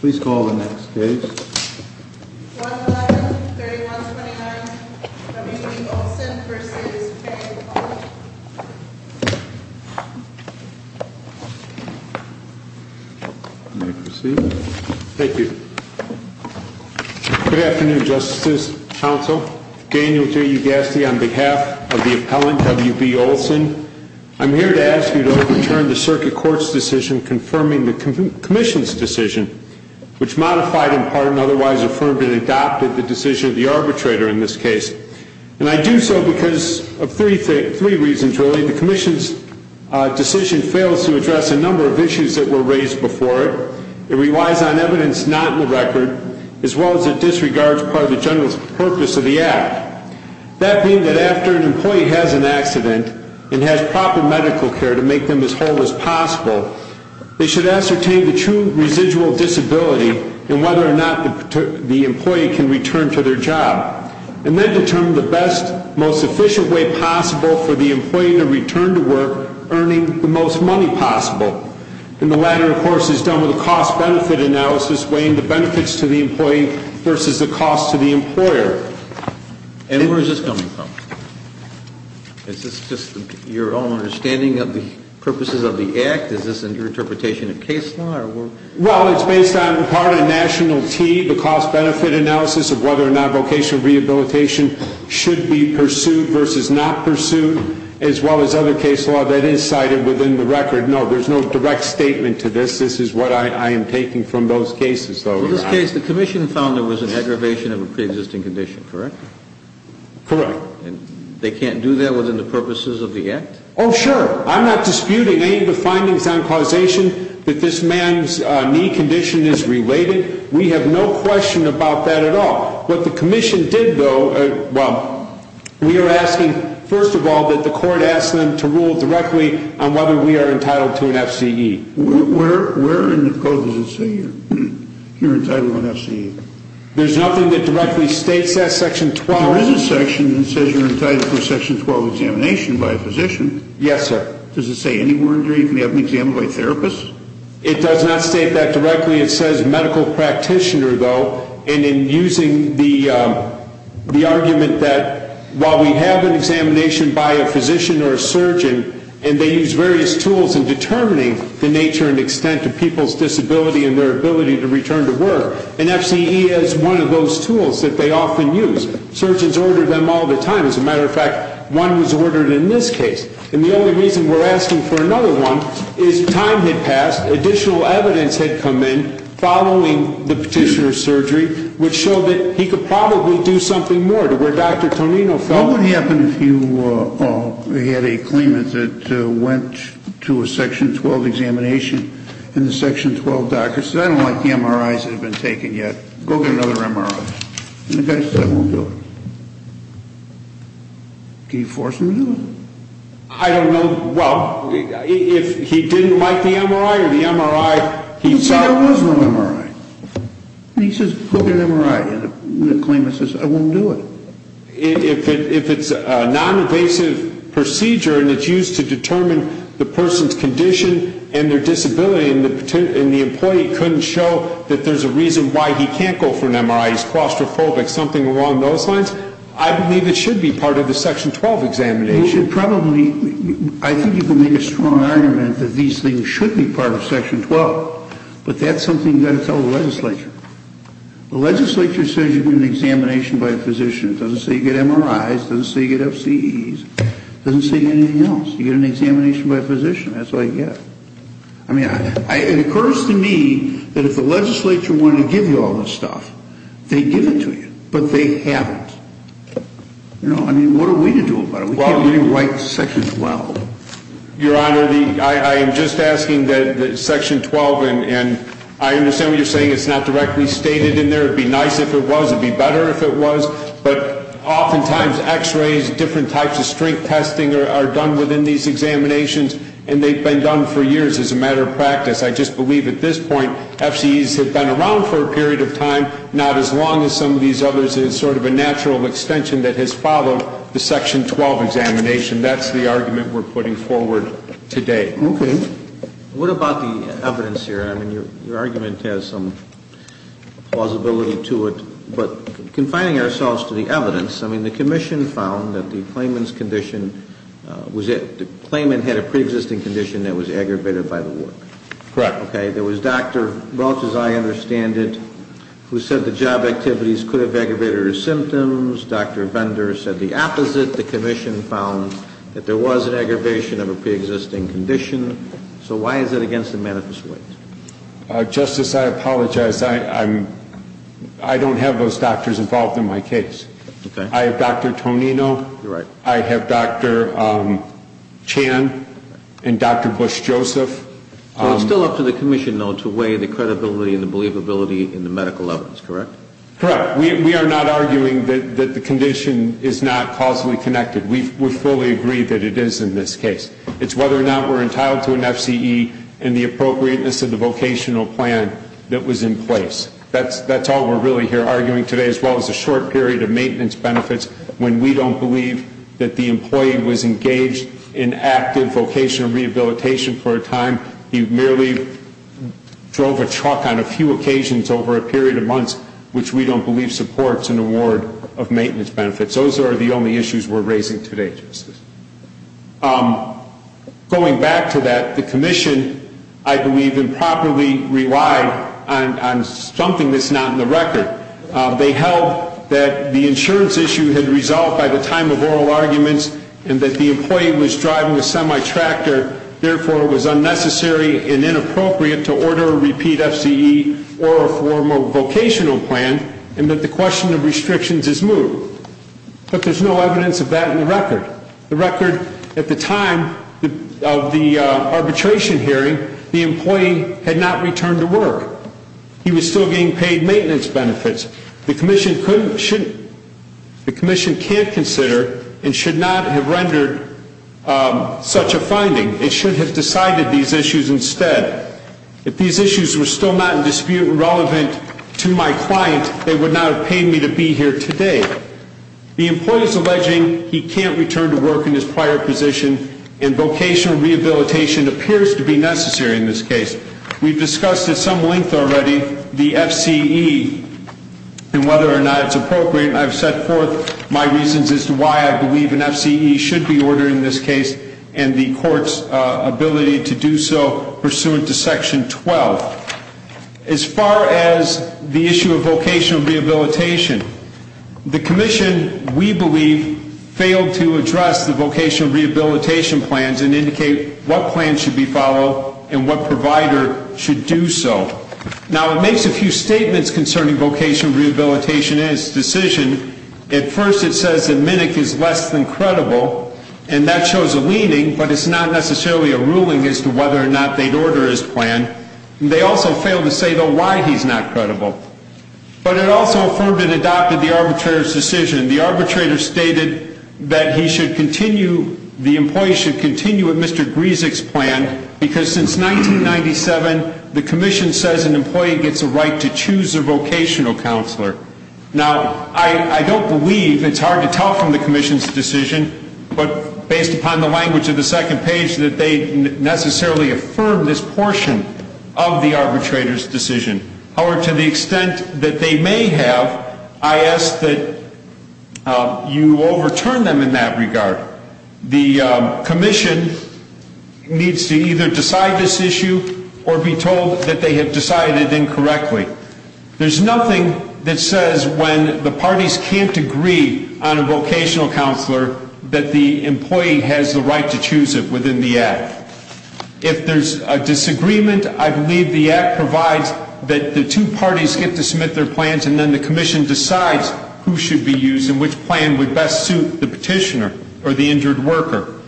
Please call the next case. 1-5-31-29 W.B. Olson, Inc. v. Payne, Inc. You may proceed. Thank you. Good afternoon, Justice Council. Daniel T. Ugasti on behalf of the appellant, W.B. Olson. I'm here to ask you to overturn the Circuit Court's decision confirming the Commission's decision, which modified in part and otherwise affirmed and adopted the decision of the arbitrator in this case. And I do so because of three reasons, really. The Commission's decision fails to address a number of issues that were raised before it. It relies on evidence not in the record, as well as it disregards part of the general purpose of the act. That being that after an employee has an accident and has proper medical care to make them as whole as possible, they should ascertain the true residual disability and whether or not the employee can return to their job, and then determine the best, most efficient way possible for the employee to return to work earning the most money possible. And the latter, of course, is done with a cost-benefit analysis weighing the benefits to the employee versus the cost to the employer. And where is this coming from? Is this just your own understanding of the purposes of the act? Is this in your interpretation of case law? Well, it's based on part of National T, the cost-benefit analysis of whether or not vocational rehabilitation should be pursued versus not pursued, as well as other case law that is cited within the record. No, there's no direct statement to this. This is what I am taking from those cases, though. In this case, the commission found there was an aggravation of a preexisting condition, correct? Correct. And they can't do that within the purposes of the act? Oh, sure. I'm not disputing any of the findings on causation that this man's knee condition is related. We have no question about that at all. What the commission did, though, well, we are asking, first of all, that the court ask them to rule directly on whether we are entitled to an FCE. Where in the code does it say you're entitled to an FCE? There's nothing that directly states that. Section 12. There is a section that says you're entitled to a Section 12 examination by a physician. Yes, sir. Does it say anywhere in there you can have an exam by a therapist? It does not state that directly. Technically it says medical practitioner, though, and in using the argument that while we have an examination by a physician or a surgeon, and they use various tools in determining the nature and extent of people's disability and their ability to return to work, an FCE is one of those tools that they often use. Surgeons order them all the time. As a matter of fact, one was ordered in this case. And the only reason we're asking for another one is time had passed, additional evidence had come in following the petitioner's surgery, which showed that he could probably do something more to where Dr. Tonino felt. What would happen if you had a claimant that went to a Section 12 examination and the Section 12 doctor said, I don't like the MRIs that have been taken yet, go get another MRI? And the guy said, I won't do it. Can you force him to do it? I don't know. Well, if he didn't like the MRI or the MRI, he saw it. But there was no MRI. And he says, go get an MRI. And the claimant says, I won't do it. If it's a noninvasive procedure and it's used to determine the person's condition and their disability and the employee couldn't show that there's a reason why he can't go for an MRI, he's claustrophobic, something along those lines, I believe it should be part of the Section 12 examination. You should probably, I think you can make a strong argument that these things should be part of Section 12. But that's something you've got to tell the legislature. The legislature says you get an examination by a physician. It doesn't say you get MRIs. It doesn't say you get FCEs. It doesn't say anything else. You get an examination by a physician. That's all you get. I mean, it occurs to me that if the legislature wanted to give you all this stuff, they'd give it to you. But they haven't. I mean, what are we to do about it? We can't really write Section 12. Your Honor, I am just asking that Section 12, and I understand what you're saying, it's not directly stated in there. It would be nice if it was. It would be better if it was. But oftentimes, X-rays, different types of strength testing are done within these examinations. And they've been done for years as a matter of practice. I just believe at this point, FCEs have been around for a period of time, not as long as some of these others. It's sort of a natural extension that has followed the Section 12 examination. That's the argument we're putting forward today. Okay. What about the evidence here? I mean, your argument has some plausibility to it. But confining ourselves to the evidence, I mean, the commission found that the claimant's condition was that the pre-existing condition that was aggravated by the work. Correct. Okay. There was Dr. Welch, as I understand it, who said the job activities could have aggravated his symptoms. Dr. Bender said the opposite. The commission found that there was an aggravation of a pre-existing condition. So why is it against the manifest weight? Justice, I apologize. I don't have those doctors involved in my case. Okay. I have Dr. Tonino. You're right. I have Dr. Chan and Dr. Bush-Joseph. So it's still up to the commission, though, to weigh the credibility and the believability in the medical evidence, correct? Correct. We are not arguing that the condition is not causally connected. We fully agree that it is in this case. It's whether or not we're entitled to an FCE and the appropriateness of the vocational plan that was in place. That's all we're really here arguing today, as well as a short period of maintenance benefits, when we don't believe that the employee was engaged in active vocational rehabilitation for a time. He merely drove a truck on a few occasions over a period of months, which we don't believe supports an award of maintenance benefits. Those are the only issues we're raising today, Justice. Going back to that, the commission, I believe, improperly relied on something that's not in the record. They held that the insurance issue had resolved by the time of oral arguments and that the employee was driving a semi-tractor, therefore it was unnecessary and inappropriate to order a repeat FCE or a formal vocational plan, and that the question of restrictions is moved. But there's no evidence of that in the record. The record at the time of the arbitration hearing, the employee had not returned to work. He was still getting paid maintenance benefits. The commission couldn't, shouldn't, the commission can't consider and should not have rendered such a finding. It should have decided these issues instead. If these issues were still not in dispute and relevant to my client, they would not have paid me to be here today. The employee is alleging he can't return to work in his prior position and vocational rehabilitation appears to be necessary in this case. We've discussed at some length already the FCE and whether or not it's appropriate. I've set forth my reasons as to why I believe an FCE should be ordered in this case and the court's ability to do so pursuant to Section 12. As far as the issue of vocational rehabilitation, the commission, we believe, failed to address the vocational rehabilitation plans and indicate what plans should be followed and what provider should do so. Now, it makes a few statements concerning vocational rehabilitation and its decision. At first it says that MNIC is less than credible, and that shows a leaning, but it's not necessarily a ruling as to whether or not they'd order his plan. They also fail to say, though, why he's not credible. But it also affirmed and adopted the arbitrator's decision. The arbitrator stated that he should continue, the employee should continue with Mr. Gryzik's plan because since 1997, the commission says an employee gets a right to choose a vocational counselor. Now, I don't believe, it's hard to tell from the commission's decision, but based upon the language of the second page, that they necessarily affirm this portion of the arbitrator's decision. However, to the extent that they may have, I ask that you overturn them in that regard. The commission needs to either decide this issue or be told that they have decided incorrectly. There's nothing that says when the parties can't agree on a vocational counselor that the employee has the right to choose it within the Act. If there's a disagreement, I believe the Act provides that the two parties get to submit their plans and then the commission decides who should be used and which plan would best suit the petitioner or the injured worker.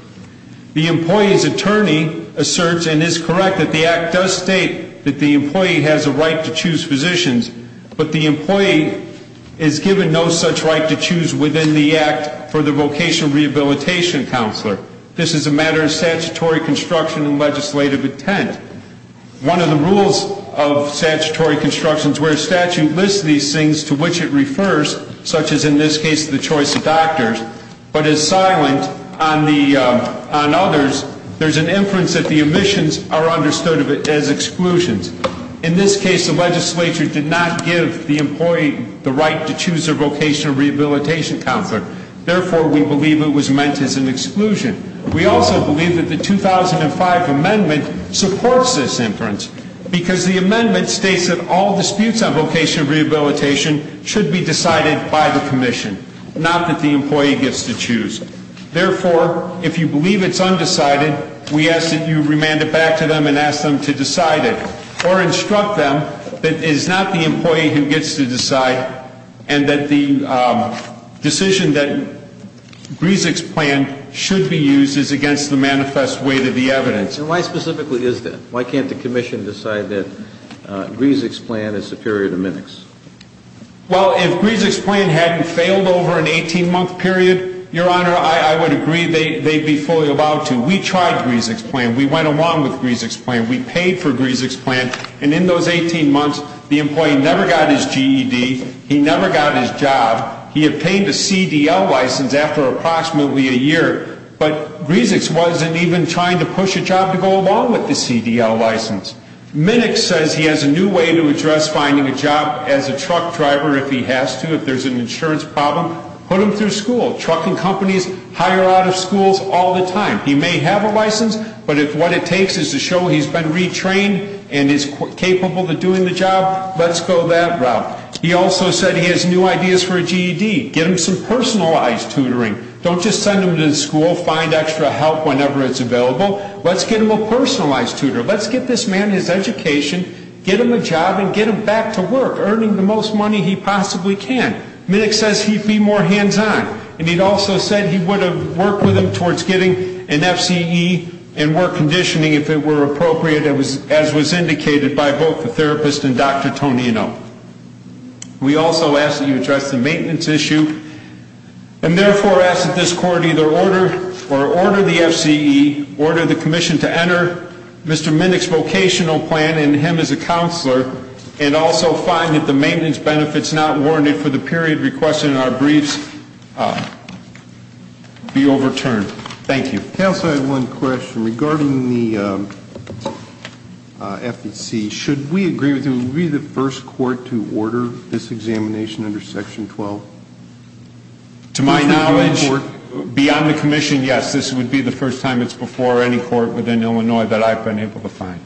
The employee's attorney asserts and is correct that the Act does state that the employee has a right to choose physicians, but the employee is given no such right to choose within the Act for the vocational rehabilitation counselor. This is a matter of statutory construction and legislative intent. One of the rules of statutory construction is where a statute lists these things to which it refers, such as in this case the choice of doctors, but is silent on others, there's an inference that the omissions are understood as exclusions. In this case, the legislature did not give the employee the right to choose their vocational rehabilitation counselor. Therefore, we believe it was meant as an exclusion. We also believe that the 2005 amendment supports this inference, because the amendment states that all disputes on vocational rehabilitation should be decided by the commission, not that the employee gets to choose. Therefore, if you believe it's undecided, we ask that you remand it back to them and ask them to decide it or instruct them that it is not the employee who gets to decide and that the decision that Griesig's plan should be used is against the manifest weight of the evidence. And why specifically is that? Why can't the commission decide that Griesig's plan is superior to Minick's? Well, if Griesig's plan hadn't failed over an 18-month period, Your Honor, I would agree they'd be fully allowed to. We tried Griesig's plan. We went along with Griesig's plan. We paid for Griesig's plan. And in those 18 months, the employee never got his GED. He never got his job. He obtained a CDL license after approximately a year. But Griesig's wasn't even trying to push a job to go along with the CDL license. Minick says he has a new way to address finding a job as a truck driver if he has to. If there's an insurance problem, put him through school. Trucking companies hire out of schools all the time. He may have a license, but if what it takes is to show he's been retrained and is capable of doing the job, let's go that route. He also said he has new ideas for a GED. Get him some personalized tutoring. Don't just send him to school, find extra help whenever it's available. Let's get him a personalized tutor. Let's get this man his education, get him a job, and get him back to work, earning the most money he possibly can. Minick says he'd be more hands-on. And he'd also said he would have worked with him towards getting an FCE and work conditioning if it were appropriate, as was indicated by both the therapist and Dr. Tonino. We also asked that you address the maintenance issue. And therefore ask that this court either order the FCE, order the commission to enter Mr. Minick's vocational plan and him as a counselor, and also find that the maintenance benefits not warranted for the period requested in our briefs be overturned. Thank you. Counsel, I have one question. Regarding the FEC, should we agree that it would be the first court to order this examination under Section 12? To my knowledge, beyond the commission, yes. This would be the first time it's before any court within Illinois that I've been able to find.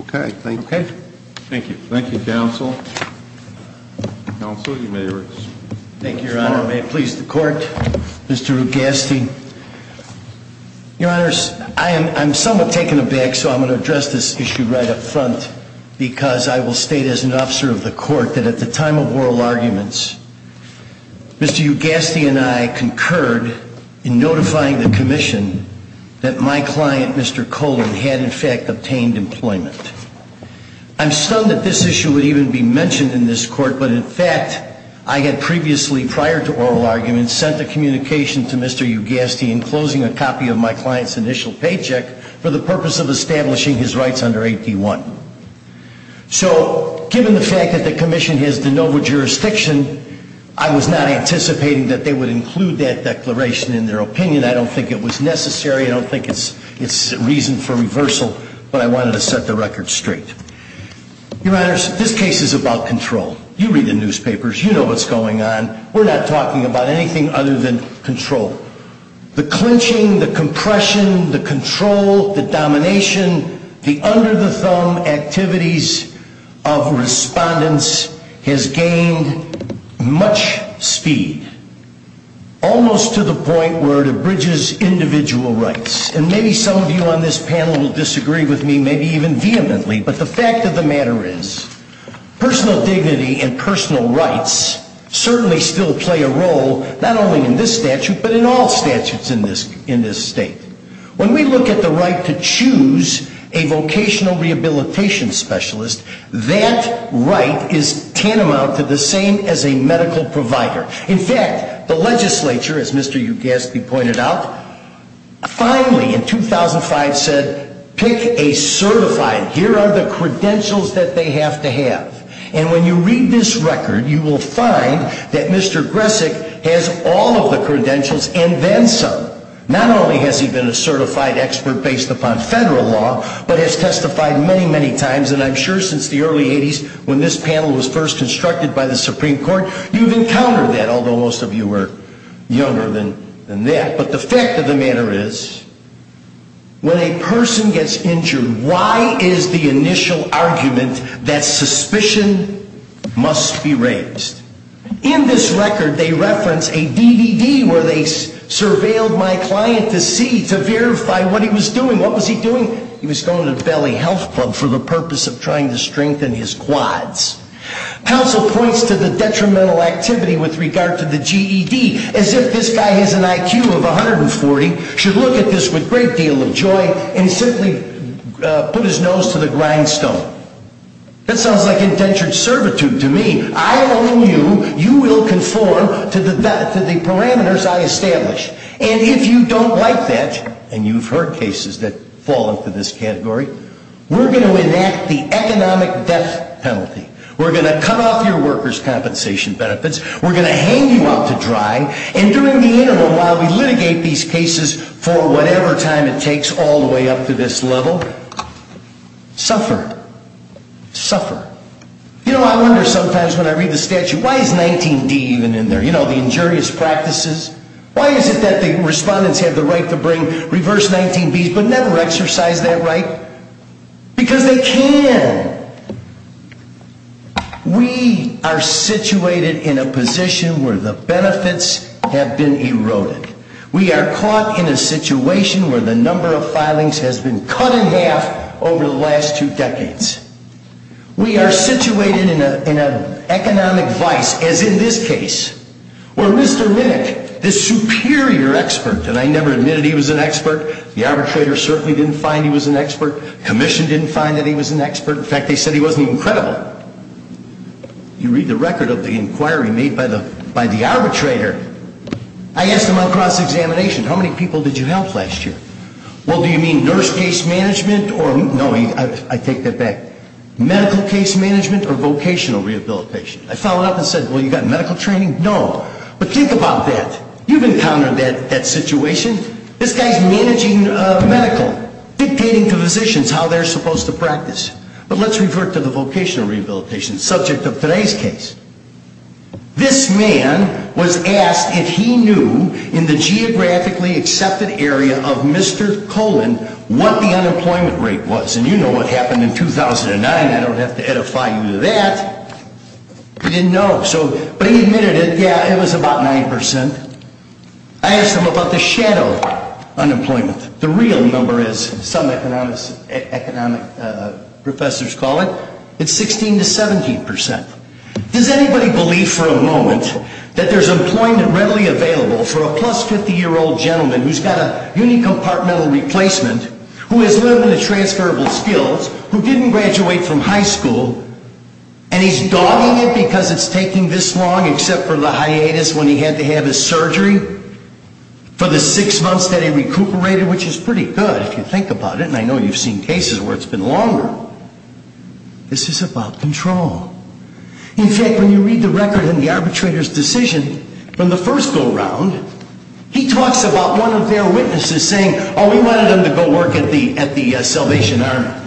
Okay. Thank you. Okay. Thank you. Thank you, counsel. Counsel, you may rise. Thank you, Your Honor. May it please the court, Mr. Ugasti. Your Honor, I'm somewhat taken aback, so I'm going to address this issue right up front, because I will state as an officer of the court that at the time of oral arguments, Mr. Ugasti and I concurred in notifying the commission that my client, Mr. Colon, had in fact obtained employment. I'm stunned that this issue would even be mentioned in this court, but in fact, I had previously, prior to oral arguments, sent a communication to Mr. Ugasti enclosing a copy of my client's initial paycheck for the purpose of establishing his rights under 8D1. So given the fact that the commission has de novo jurisdiction, I was not anticipating that they would include that declaration in their opinion. I don't think it was necessary. I don't think it's reason for reversal, but I wanted to set the record straight. Your Honors, this case is about control. You read the newspapers. You know what's going on. We're not talking about anything other than control. The clenching, the compression, the control, the domination, the under-the-thumb activities of respondents has gained much speed, almost to the point where it abridges individual rights. And maybe some of you on this panel will disagree with me, maybe even vehemently, but the fact of the matter is personal dignity and personal rights certainly still play a role, not only in this statute, but in all statutes in this state. When we look at the right to choose a vocational rehabilitation specialist, that right is tantamount to the same as a medical provider. In fact, the legislature, as Mr. Ugasti pointed out, finally in 2005 said, pick a certified. Here are the credentials that they have to have. And when you read this record, you will find that Mr. Gresick has all of the credentials and then some. Not only has he been a certified expert based upon federal law, but has testified many, many times, and I'm sure since the early 80s when this panel was first constructed by the Supreme Court, you've encountered that, although most of you were younger than that. But the fact of the matter is, when a person gets injured, why is the initial argument that suspicion must be raised? In this record, they reference a DVD where they surveilled my client to see, to verify what he was doing. What was he doing? He was going to a belly health club for the purpose of trying to strengthen his quads. Counsel points to the detrimental activity with regard to the GED as if this guy has an IQ of 140, should look at this with a great deal of joy, and simply put his nose to the grindstone. That sounds like indentured servitude to me. I own you. You will conform to the parameters I establish. And if you don't like that, and you've heard cases that fall into this category, we're going to enact the economic death penalty. We're going to cut off your workers' compensation benefits. We're going to hang you out to dry. And during the interim, while we litigate these cases for whatever time it takes all the way up to this level, suffer. Suffer. You know, I wonder sometimes when I read the statute, why is 19D even in there? You know, the injurious practices. Why is it that the respondents have the right to bring reverse 19Bs but never exercise that right? Because they can. We are situated in a position where the benefits have been eroded. We are caught in a situation where the number of filings has been cut in half over the last two decades. We are situated in an economic vice, as in this case, where Mr. Minnick, the superior expert, and I never admitted he was an expert. The arbitrator certainly didn't find he was an expert. Commission didn't find that he was an expert. In fact, they said he wasn't even credible. You read the record of the inquiry made by the arbitrator. I asked him on cross-examination, how many people did you help last year? Well, do you mean nurse case management or, no, I take that back, medical case management or vocational rehabilitation? I followed up and said, well, you got medical training? No. But think about that. You've encountered that situation. This guy's managing medical, dictating to physicians how they're supposed to practice. But let's revert to the vocational rehabilitation subject of today's case. This man was asked if he knew, in the geographically accepted area of Mr. Coleman, what the unemployment rate was. And you know what happened in 2009. I don't have to edify you to that. He didn't know. But he admitted it. Yeah, it was about 9%. I asked him about the shadow unemployment. The real number is, some economic professors call it, it's 16 to 17%. Does anybody believe for a moment that there's employment readily available for a plus-50-year-old gentleman who's got a unicompartmental replacement who has limited transferable skills, who didn't graduate from high school, and he's dogging it because it's taking this long except for the hiatus when he had to have his surgery for the six months that he recuperated, which is pretty good if you think about it. And I know you've seen cases where it's been longer. This is about control. In fact, when you read the record in the arbitrator's decision from the first go-round, he talks about one of their witnesses saying, oh, we wanted him to go work at the Salvation Army.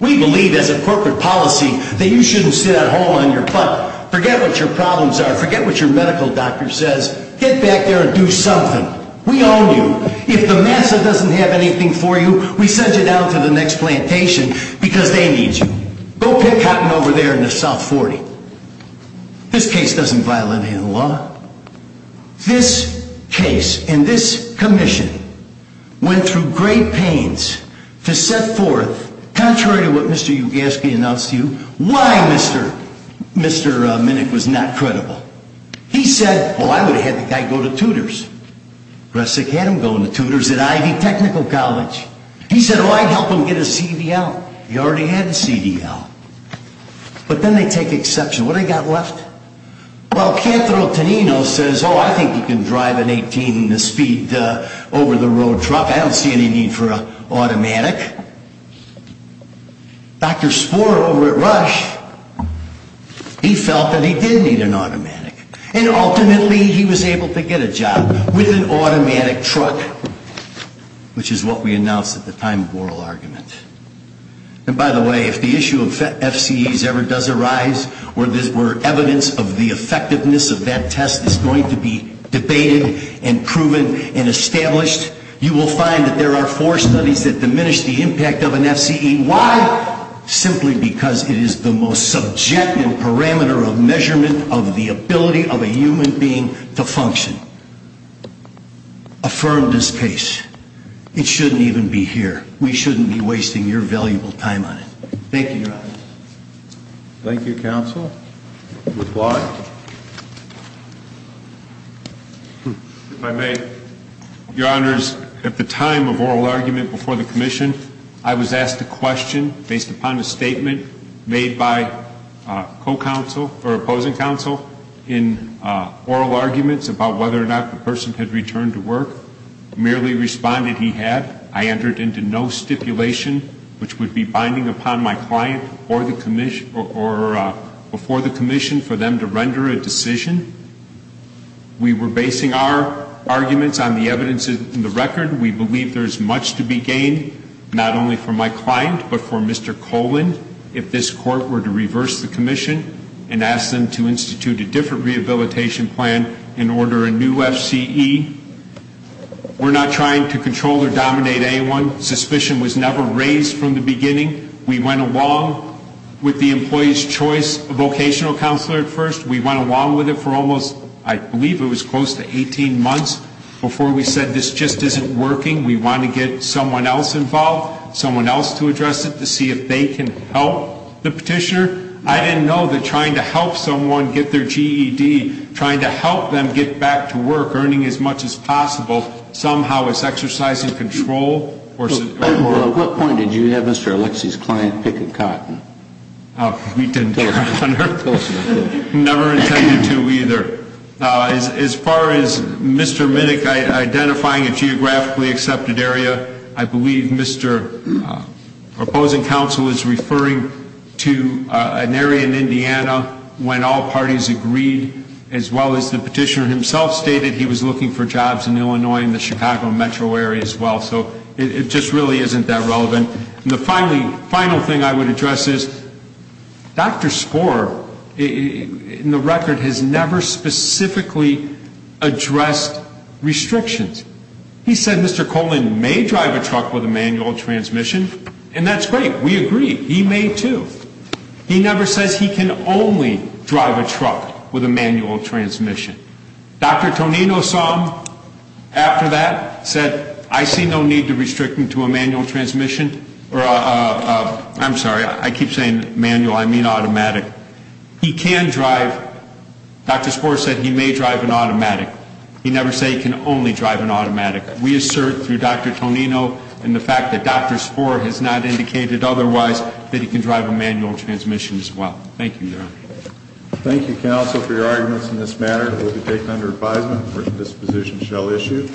We believe as a corporate policy that you shouldn't sit at home on your butt. Forget what your problems are. Forget what your medical doctor says. Get back there and do something. We own you. If the MASA doesn't have anything for you, we send you down to the next plantation because they need you. Go pick cotton over there in the South 40. This case doesn't violate any law. This case and this commission went through great pains to set forth, contrary to what Mr. Ugaski announced to you, why Mr. Minnick was not credible. He said, oh, I would have had the guy go to tutors. Russick had him go into tutors at Ivy Technical College. He said, oh, I'd help him get a CDL. He already had a CDL. But then they take exception. What do they got left? Well, Cantor Otonino says, oh, I think he can drive an 18-speed over-the-road truck. I don't see any need for an automatic. Dr. Spohr over at Rush, he felt that he did need an automatic. And ultimately he was able to get a job with an automatic truck, which is what we announced at the time of oral argument. And by the way, if the issue of FCEs ever does arise, where evidence of the effectiveness of that test is going to be debated and proven and established, you will find that there are four studies that diminish the impact of an FCE. Why? Simply because it is the most subjective parameter of measurement of the ability of a human being to function. Affirm this case. It shouldn't even be here. We shouldn't be wasting your valuable time on it. Thank you, Your Honor. Thank you, Counsel. McClaw. If I may. Your Honors, at the time of oral argument before the commission, I was asked a question based upon a statement made by a co-counsel or opposing counsel in oral arguments about whether or not the person had returned to work. Merely responded he had. I entered into no stipulation, which would be binding upon my client or before the commission for them to render a decision. We were basing our arguments on the evidence in the record. We believe there is much to be gained not only from my client but from Mr. Colan if this court were to reverse the commission and ask them to institute a different rehabilitation plan in order a new FCE. We're not trying to control or dominate anyone. Suspicion was never raised from the beginning. We went along with the employee's choice of vocational counselor at first. We went along with it for almost, I believe it was close to 18 months before we said this just isn't working. We want to get someone else involved, someone else to address it, to see if they can help the petitioner. I didn't know that trying to help someone get their GED, trying to help them get back to work, earning as much as possible, somehow is exercising control. At what point did you have Mr. Alexie's client pick a cotton? We didn't. Never intended to either. As far as Mr. Minnick identifying a geographically accepted area, I believe Mr. Opposing Counsel is referring to an area in Indiana when all parties agreed as well as the petitioner himself stated he was looking for jobs in Illinois and the Chicago metro area as well. So it just really isn't that relevant. And the final thing I would address is Dr. Sporr, in the record, has never specifically addressed restrictions. He said Mr. Coleman may drive a truck with a manual transmission, and that's great. We agree. He may, too. He never says he can only drive a truck with a manual transmission. Dr. Tonino saw him after that, said, I see no need to restrict him to a manual transmission. I'm sorry, I keep saying manual. I mean automatic. He can drive. Dr. Sporr said he may drive an automatic. He never said he can only drive an automatic. We assert through Dr. Tonino and the fact that Dr. Sporr has not indicated otherwise that he can drive a manual transmission as well. Thank you, Your Honor. Thank you, counsel, for your arguments in this matter. It will be taken under advisement, and this position shall issue.